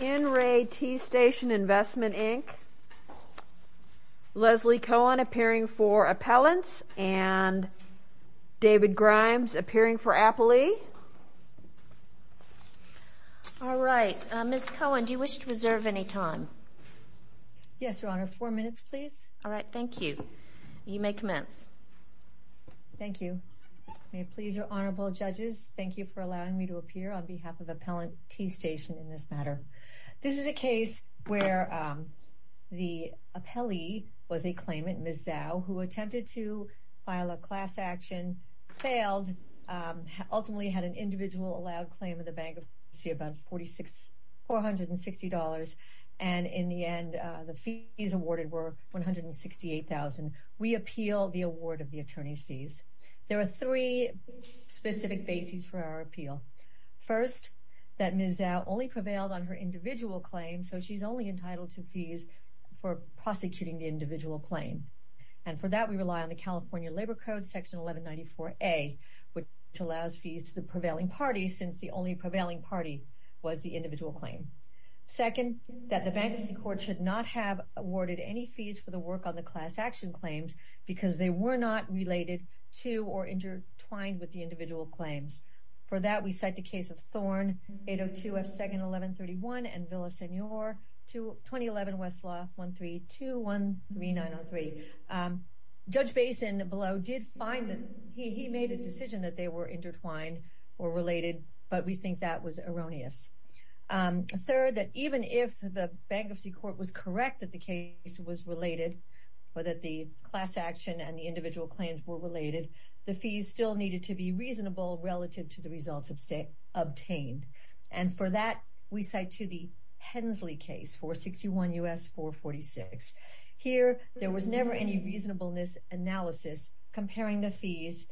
In re TEA STATION INVESTMENT, INC., Leslie Cohen appearing for Appellants, and David Grimes appearing for Appley. All right. Ms. Cohen, do you wish to reserve any time? Yes, Your Honor. Four minutes, please. All right. Thank you. You may commence. Thank you. May it please Your Honorable Judges, thank you for allowing me to appear on behalf of Appellant TEA STATION in this matter. This is a case where the appellee was a claimant, Ms. Zhou, who attempted to file a class action, failed, ultimately had an individual allowed claim of the bankruptcy of about $460, and in the end the fees awarded were $168,000. We appeal the award of the attorney's fees. There are three specific bases for our appeal. First, that Ms. Zhou only prevailed on her individual claim, so she's only entitled to fees for prosecuting the individual claim, and for that we rely on the California Labor Code, Section 1194A, which allows fees to the prevailing parties, since the only prevailing party was the individual claim. Second, that the bankruptcy court should not have awarded any fees for the work on the class action claims, because they were not related to or intertwined with the individual claims. For that, we cite the case of Thorn, 802 F. 2nd. 1131, and Villa Senor, 2011 Westlaw 13213903. Judge Basin below did find that he made a decision that they were intertwined or related, but we think that was erroneous. Third, that even if the bankruptcy court was correct that the case was related, or that the class action and the individual claims were related, the fees still needed to be reasonable relative to the results obtained. And for that, we cite to the Hensley case, 461 U.S. 446. Here, there was never any reasonableness analysis comparing the fees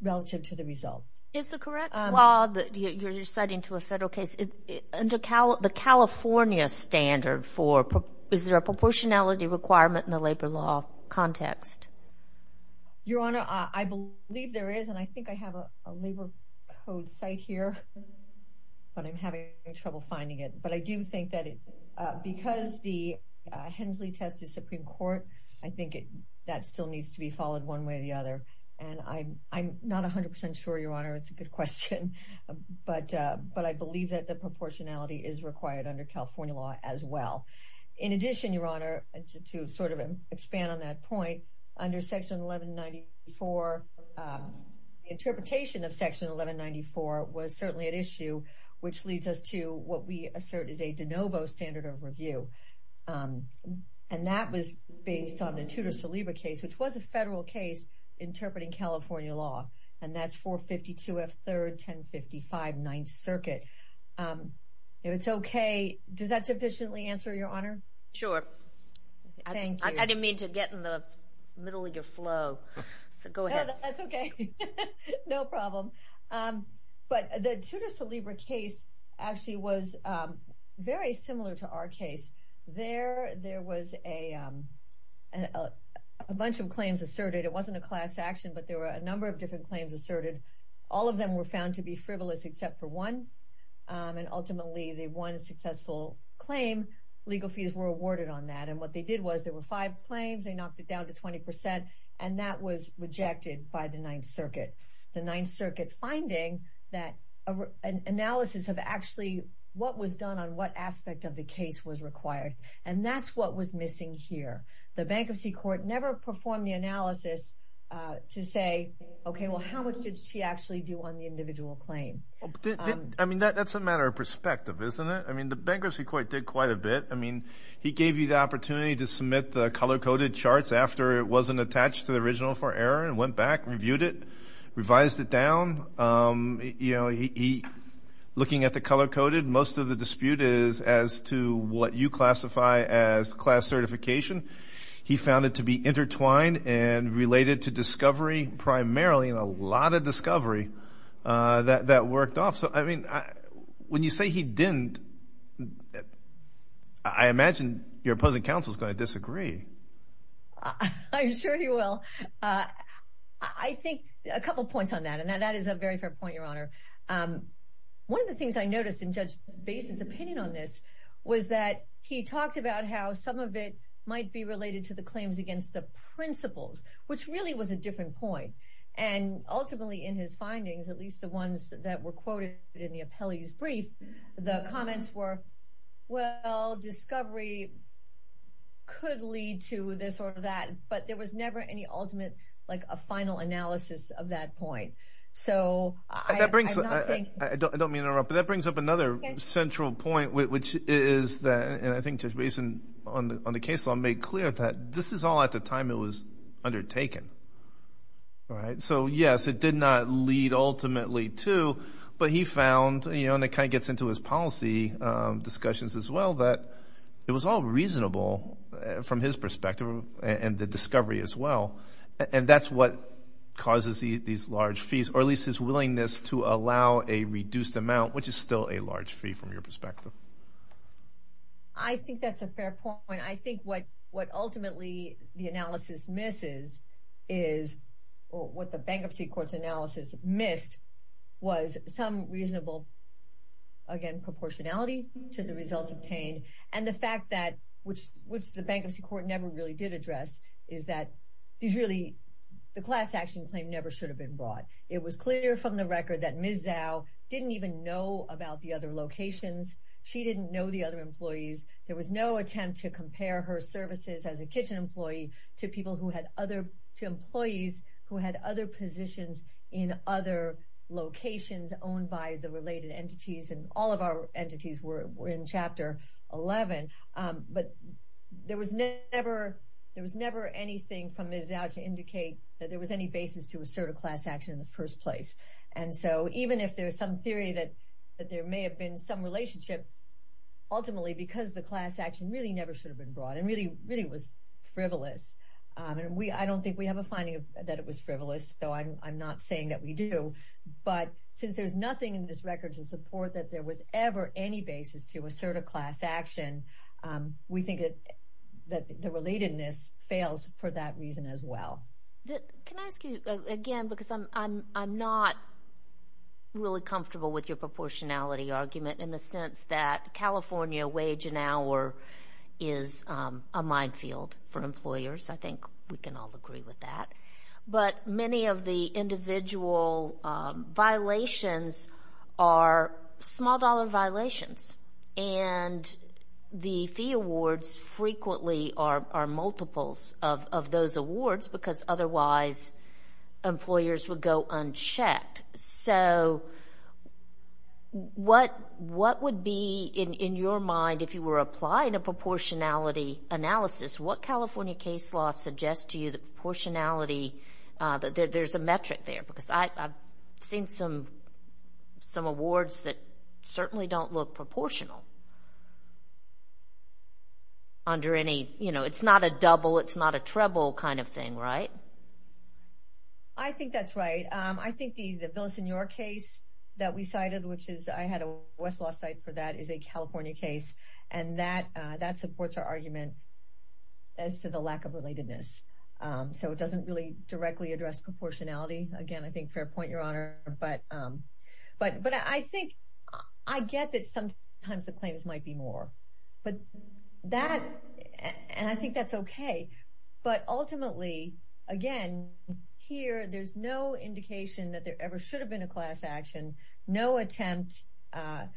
relative to the results. Is the correct law that you're citing to a federal case, the California standard for is there a proportionality requirement in the labor law context? Your Honor, I believe there is, and I think I have a labor code site here, but I'm having trouble finding it. But I do think that because the Hensley test is Supreme Court, I think that still needs to be followed one way or the other. And I'm not 100% sure, Your Honor. It's a good question. But I believe that the proportionality is required under California law as well. In addition, Your Honor, to sort of expand on that point, under Section 1194, the interpretation of Section 1194 was certainly at issue, which leads us to what we assert is a de novo standard of review. And that was based on the Tudor-Saliba case, which was a federal case interpreting California law. And that's 452 F. 3rd, 1055 9th Circuit. If it's okay, does that sufficiently answer, Your Honor? Sure. I didn't mean to get in the middle of your flow. That's okay. No problem. But the Tudor-Saliba case actually was very similar to our case. There was a bunch of claims asserted. It wasn't a class action, but there were a number of different claims asserted. All of them were found to be frivolous except for one. And ultimately, the one successful claim, legal fees were awarded on that. And what they did was there were five claims. They knocked it down to 20%. And that was rejected by the 9th Circuit. The 9th Circuit finding that an analysis of actually what was done on what aspect of the case was required. And that's what was missing here. The Bankruptcy Court never performed the analysis to say, okay, well, how much did she actually do on the individual claim? I mean, that's a matter of perspective, isn't it? I mean, the Bankruptcy Court did quite a bit. I mean, he gave you the opportunity to submit the color-coded charts after it wasn't attached to the original for error, and went back, reviewed it, revised it down. Looking at the color-coded, most of the dispute is as to what you classify as class certification. He found it to be intertwined and related to discovery primarily, and a lot of discovery that worked off. So, I mean, when you say he didn't, I imagine your opposing counsel is going to disagree. I'm sure he will. I think a couple points on that, and that is a very fair point, Your Honor. One of the things I noticed in Judge Basin's opinion on this was that he talked about how some of it might be related to the claims against the principles, which really was a different point. And ultimately, in his findings, at least the ones that were quoted in the appellee's brief, the comments were, well, discovery could lead to this or that, but there was never any ultimate, like a final analysis of that point. I don't mean to interrupt, but that brings up another central point, which is that, and I think Judge Basin, on the case law, made clear that this is all at the time it was undertaken. So, yes, it did not lead ultimately to, but he found, and it kind of gets into his policy discussions as well, that it was all reasonable from his perspective and the discovery as well, and that's what causes these large fees, or at least his willingness to allow a reduced amount, which is still a large fee from your perspective. I think that's a fair point. I think what ultimately the analysis misses is, or what the bankruptcy court's analysis missed, was some reasonable, again, proportionality to the results obtained, and the fact that, which the bankruptcy court never really did address, is that these really, the class action claim never should have been brought. It was clear from the record that Ms. Zhao didn't even know about the other locations. She didn't know the other employees. There was no attempt to compare her services as a kitchen employee to people who had other, to employees who had other positions in other locations owned by the related entities, and all of our entities were in Chapter 11, but there was never anything from Ms. Zhao to indicate that there was any basis to assert a class action in the first place, and so even if there's some theory that there may have been some relationship, ultimately because the class action really never should have been brought and really was frivolous, and I don't think we have a finding that it was frivolous, so I'm not saying that we do, but since there's nothing in this record to support that there was ever any basis to assert a class action, we think that the relatedness fails for that reason as well. Can I ask you again, because I'm not really comfortable with your proportionality argument in the sense that California wage an hour is a minefield for employers. I think we can all agree with that, but many of the individual violations are small-dollar violations, and the fee awards frequently are multiples of those awards because otherwise employers would go unchecked. So what would be, in your mind, if you were applying a proportionality analysis, what California case law suggests to you that proportionality, that there's a metric there, because I've seen some awards that certainly don't look proportional under any, you know, it's not a double, it's not a treble kind of thing, right? I think that's right. I think the bill that's in your case that we cited, which I had a Westlaw site for that, is a California case, and that supports our argument as to the lack of relatedness. So it doesn't really directly address proportionality. Again, I think fair point, Your Honor, but I think I get that sometimes the claims might be more, and I think that's okay, but ultimately, again, here there's no indication that there ever should have been a class action, no attempt,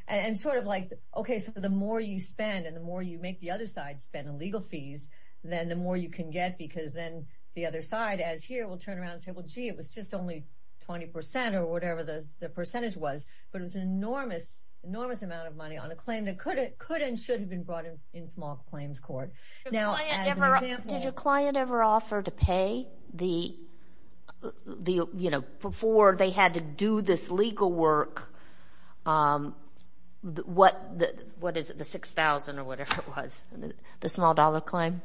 and sort of like, okay, so the more you spend and the more you make the other side spend on legal fees, then the more you can get because then the other side, as here, will turn around and say, well, gee, it was just only 20% or whatever the percentage was, but it was an enormous amount of money on a claim that could and should have been brought in small claims court. Now, as an example... Did your client ever offer to pay the, you know, before they had to do this legal work, what is it, the $6,000 or whatever it was, the small-dollar claim?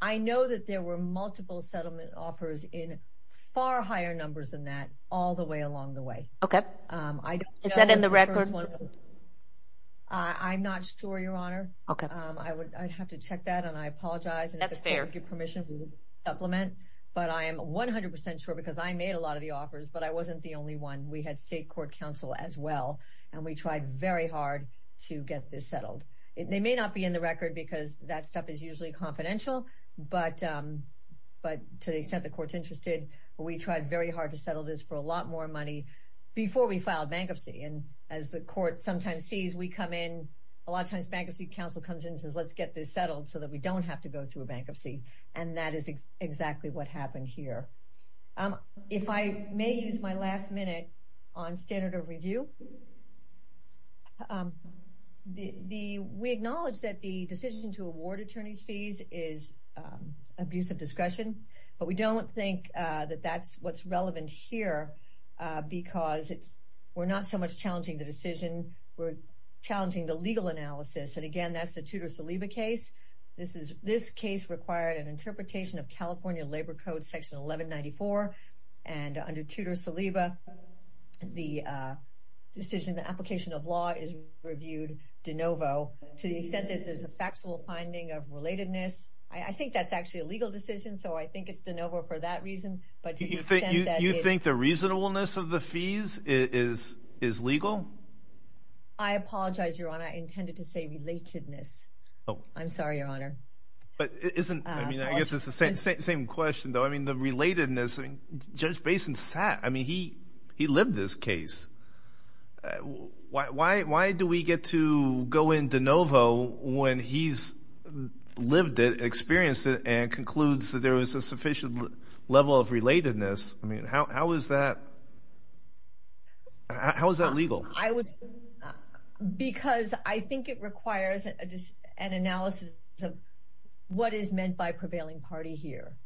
I know that there were multiple settlement offers in far higher numbers than that all the way along the way. Okay. Is that in the record? I'm not sure, Your Honor. Okay. I'd have to check that, and I apologize. That's fair. I would give permission to supplement, but I am 100% sure because I made a lot of the offers, but I wasn't the only one. We had state court counsel as well, and we tried very hard to get this settled. They may not be in the record because that stuff is usually confidential, but to the extent the court's interested, we tried very hard to settle this for a lot more money before we filed bankruptcy, and as the court sometimes sees, we come in, a lot of times bankruptcy counsel comes in and says, let's get this settled so that we don't have to go through a bankruptcy, and that is exactly what happened here. If I may use my last minute on standard of review, we acknowledge that the decision to award attorney's fees is abuse of discretion, but we don't think that that's what's relevant here because we're not so much challenging the decision, we're challenging the legal analysis, and again, that's the Tudor-Saliba case. This case required an interpretation of California Labor Code section 1194, and under Tudor-Saliba, the decision, the application of law is reviewed de novo to the extent that there's a factual finding of relatedness. I think that's actually a legal decision, so I think it's de novo for that reason, but to the extent that it... You think the reasonableness of the fees is legal? I apologize, Your Honor. I intended to say relatedness. I'm sorry, Your Honor. But isn't... I mean, I guess it's the same question, though. I mean, the relatedness. I mean, Judge Basin sat. I mean, he lived this case. Why do we get to go in de novo when he's lived it, experienced it, and concludes that there was a sufficient level of relatedness? I mean, how is that legal? Because I think it requires an analysis of what is meant by prevailing party here.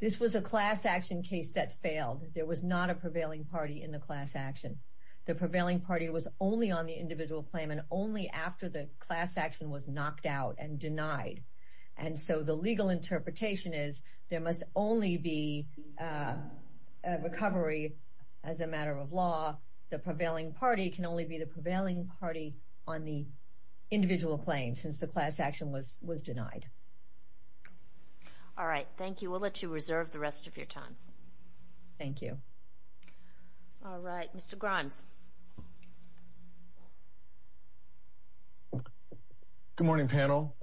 This was a class action case that failed. There was not a prevailing party in the class action. The prevailing party was only on the individual claim and only after the class action was knocked out and denied. And so the legal interpretation is there must only be a recovery as a matter of law. The prevailing party can only be the prevailing party on the individual claim since the class action was denied. All right, thank you. We'll let you reserve the rest of your time. Thank you. All right, Mr. Grimes. Good morning, panel.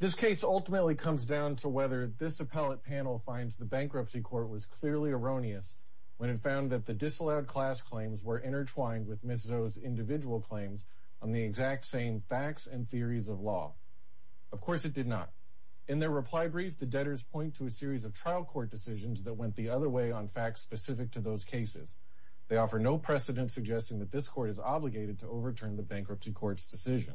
This case ultimately comes down to whether this appellate panel finds the bankruptcy court was clearly erroneous when it found that the disallowed class claims were intertwined with Ms. O's individual claims on the exact same facts and theories of law. Of course, it did not. In their reply brief, the debtors point to a series of trial court decisions that went the other way on facts specific to those cases. They offer no precedent suggesting that this court is obligated to overturn the bankruptcy court's decision.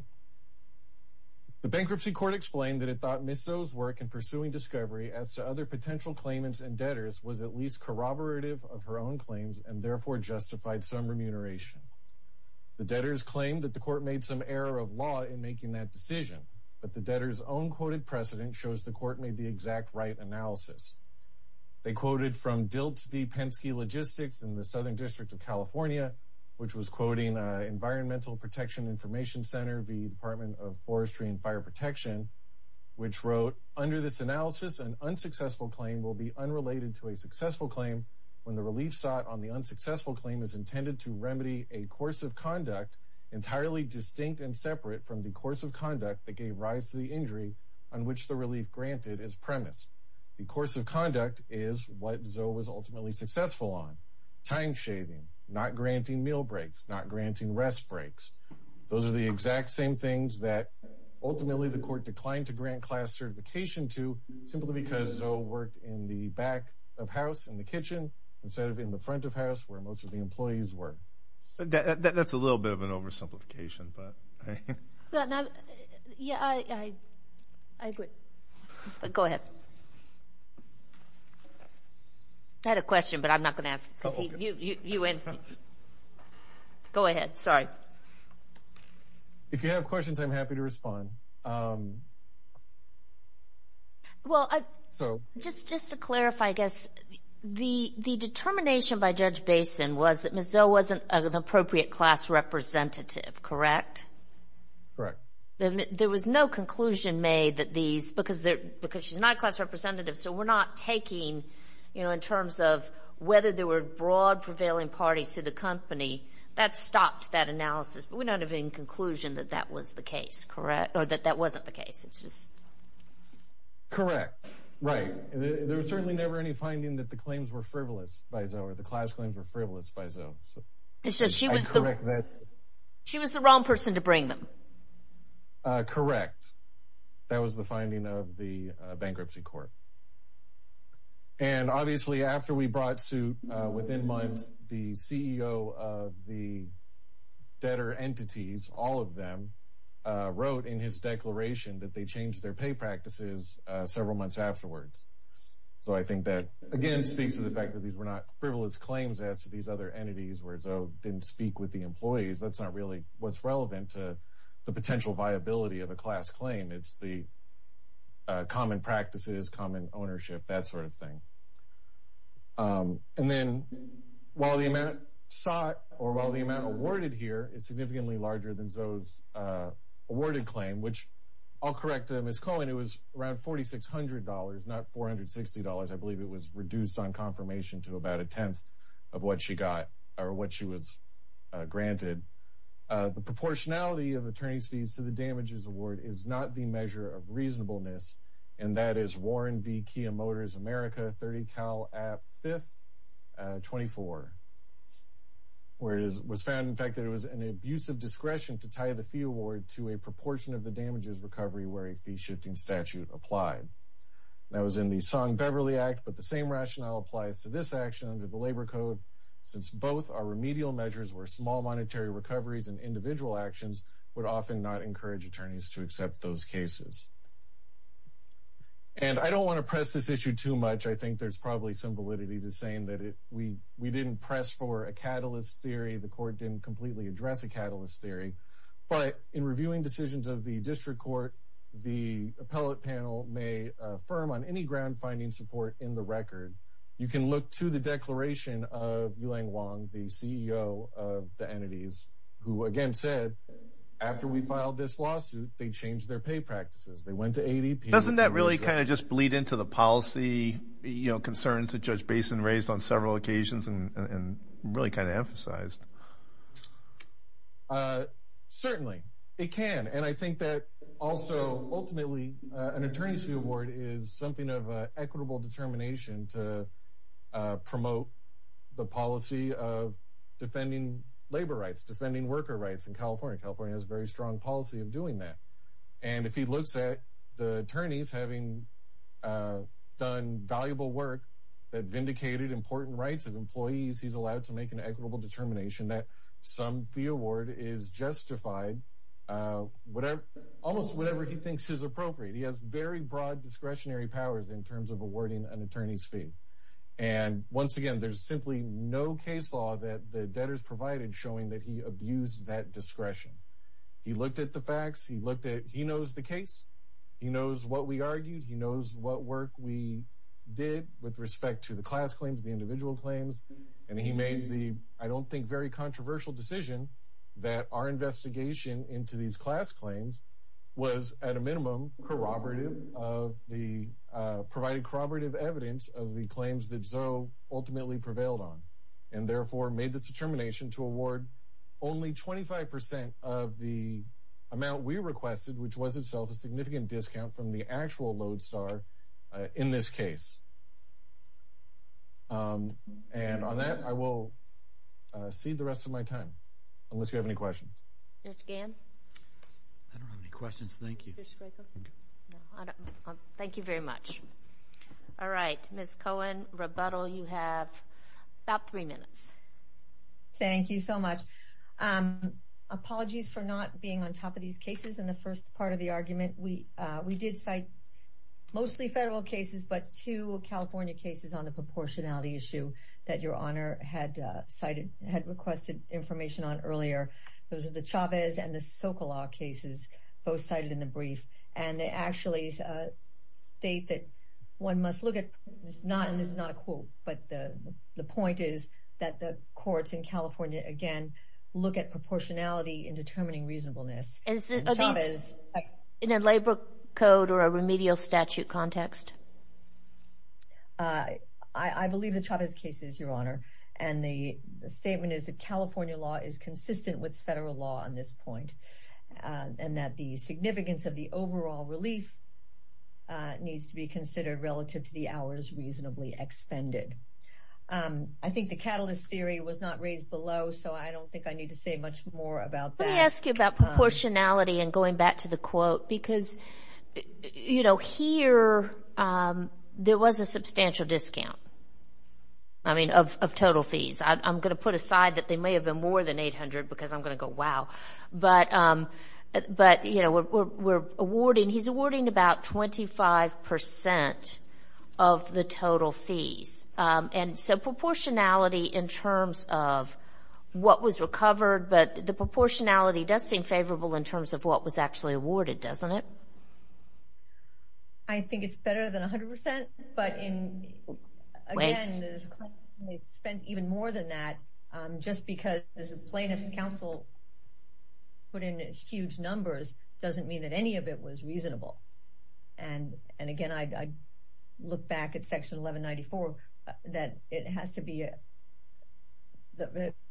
The bankruptcy court explained that it thought Ms. O's work in pursuing discovery as to other potential claimants and debtors was at least corroborative of her own claims and therefore justified some remuneration. The debtors claim that the court made some error of law in making that decision, but the debtors' own quoted precedent shows the court made the exact right analysis. They quoted from Dilt v. Penske Logistics in the Southern District of California, which was quoting Environmental Protection Information Center v. Department of Forestry and Fire Protection, which wrote, Under this analysis, an unsuccessful claim will be unrelated to a successful claim when the relief sought on the unsuccessful claim is intended to remedy a course of conduct entirely distinct and separate from the course of conduct that gave rise to the injury on which the relief granted is premised. The course of conduct is what Zoe was ultimately successful on, time-shaving, not granting meal breaks, not granting rest breaks. Those are the exact same things that ultimately the court declined to grant class certification to simply because Zoe worked in the back of house, in the kitchen, instead of in the front of house where most of the employees work. That's a little bit of an oversimplification, but... Yeah, I agree. Go ahead. I had a question, but I'm not going to ask it. You win. Go ahead. Sorry. If you have questions, I'm happy to respond. Well, just to clarify, I guess, the determination by Judge Basin was that Ms. Zoe wasn't an appropriate class representative, correct? Correct. There was no conclusion made that these, because she's not a class representative, so we're not taking, you know, in terms of whether there were broad prevailing parties to the company. That stopped that analysis, but we don't have any conclusion that that was the case, correct? Or that that wasn't the case. It's just... Correct. Right. There was certainly never any finding that the claims were frivolous by Zoe, or the class claims were frivolous by Zoe. It's just she was the wrong person to bring them. Correct. That was the finding of the bankruptcy court. And, obviously, after we brought suit, within months, the CEO of the debtor entities, all of them, wrote in his declaration that they changed their pay practices several months afterwards. So I think that, again, speaks to the fact that these were not frivolous claims as to these other entities, where Zoe didn't speak with the employees. That's not really what's relevant to the potential viability of a class claim. It's the common practices, common ownership, that sort of thing. And then, while the amount sought, or while the amount awarded here, is significantly larger than Zoe's awarded claim, which, I'll correct Ms. Cohen, it was around $4,600, not $460. I believe it was reduced on confirmation to about a tenth of what she got, or what she was granted. The proportionality of attorney's fees to the damages award is not the measure of reasonableness, and that is Warren v. Kia Motors America, 30 Cal App, 5th, 24, where it was found, in fact, that it was an abusive discretion to tie the fee award to a proportion of the damages recovery where a fee-shifting statute applied. That was in the Song-Beverly Act, but the same rationale applies to this action under the Labor Code, since both are remedial measures where small monetary recoveries and individual actions would often not encourage attorneys to accept those cases. And I don't want to press this issue too much. I think there's probably some validity to saying that we didn't press for a catalyst theory, the court didn't completely address a catalyst theory, but in reviewing decisions of the district court, the appellate panel may affirm on any ground-finding support in the record. You can look to the declaration of Yulang Wang, the CEO of the entities, who again said, after we filed this lawsuit, they changed their pay practices. They went to ADP. Doesn't that really kind of just bleed into the policy concerns that Judge Basin raised on several occasions and really kind of emphasized? Certainly, it can, and I think that also, ultimately, an attorney's fee award is something of an equitable determination to promote the policy of defending labor rights, defending worker rights in California. California has a very strong policy of doing that. And if he looks at the attorneys having done valuable work that vindicated important rights of employees, he's allowed to make an equitable determination that some fee award is justified, almost whatever he thinks is appropriate. He has very broad discretionary powers in terms of awarding an attorney's fee. And once again, there's simply no case law that the debtors provided showing that he abused that discretion. He looked at the facts. He looked at, he knows the case. He knows what we argued. He knows what work we did with respect to the class claims, the individual claims. And he made the, I don't think, very controversial decision that our investigation into these class claims was at a minimum corroborative of the, provided corroborative evidence of the claims that Zoe ultimately prevailed on, and therefore made the determination to award only 25% of the amount we requested, which was itself a significant discount from the actual load star in this case. And on that, I will cede the rest of my time, unless you have any questions. Mr. Gann? I don't have any questions. Thank you. Thank you very much. All right. Ms. Cohen, rebuttal, you have about three minutes. Thank you so much. Apologies for not being on top of these cases in the first part of the argument. We did cite mostly federal cases, but two California cases on the proportionality issue that Your Honor had requested information on earlier. Those are the Chavez and the Sokolov cases, both cited in the brief, and they actually state that one must look at, and this is not a quote, but the point is that the courts in California, again, look at proportionality in determining reasonableness. Are these in a labor code or a remedial statute context? I believe the Chavez case is, Your Honor, and the statement is that California law is consistent with federal law on this point, and that the significance of the overall relief needs to be considered relative to the hours reasonably expended. I think the catalyst theory was not raised below, so I don't think I need to say much more about that. Let me ask you about proportionality and going back to the quote, because here there was a substantial discount, I mean, of total fees. I'm going to put aside that there may have been more than 800 because I'm going to go, wow, but, you know, we're awarding, he's awarding about 25% of the total fees, and so proportionality in terms of what was recovered, but the proportionality does seem favorable in terms of what was actually awarded, doesn't it? I think it's better than 100%, but in, again, they spent even more than that just because the plaintiff's counsel put in huge numbers doesn't mean that any of it was reasonable, and, again, I look back at section 1194 that it has to be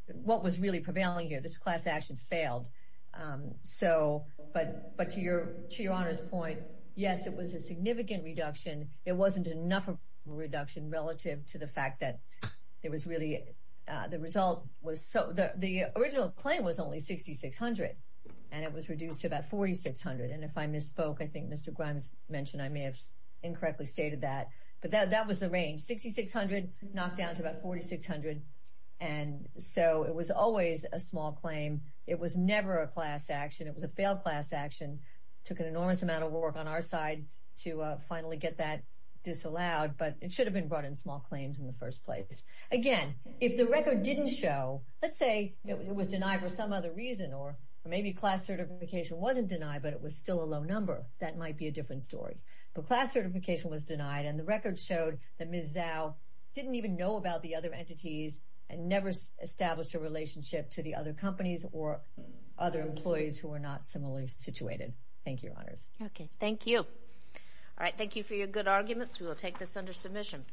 what was really prevailing here. This class action failed, but to your honor's point, yes, it was a significant reduction. It wasn't enough of a reduction relative to the fact that it was really, the result was, the original claim was only 6,600, and it was reduced to about 4,600, and if I misspoke, I think Mr. Grimes mentioned, I may have incorrectly stated that, but that was the range, 6,600 knocked down to about 4,600, and so it was always a small claim. It was never a class action. It was a failed class action. It took an enormous amount of work on our side to finally get that disallowed, but it should have been brought in small claims in the first place. Again, if the record didn't show, let's say it was denied for some other reason, or maybe class certification wasn't denied, but it was still a low number, that might be a different story, but class certification was denied, and the record showed that Ms. Zhao didn't even know about the other entities and never established a relationship to the other companies or other employees who were not similarly situated. Thank you, Your Honors. Okay, thank you. All right, thank you for your good arguments. We will take this under submission.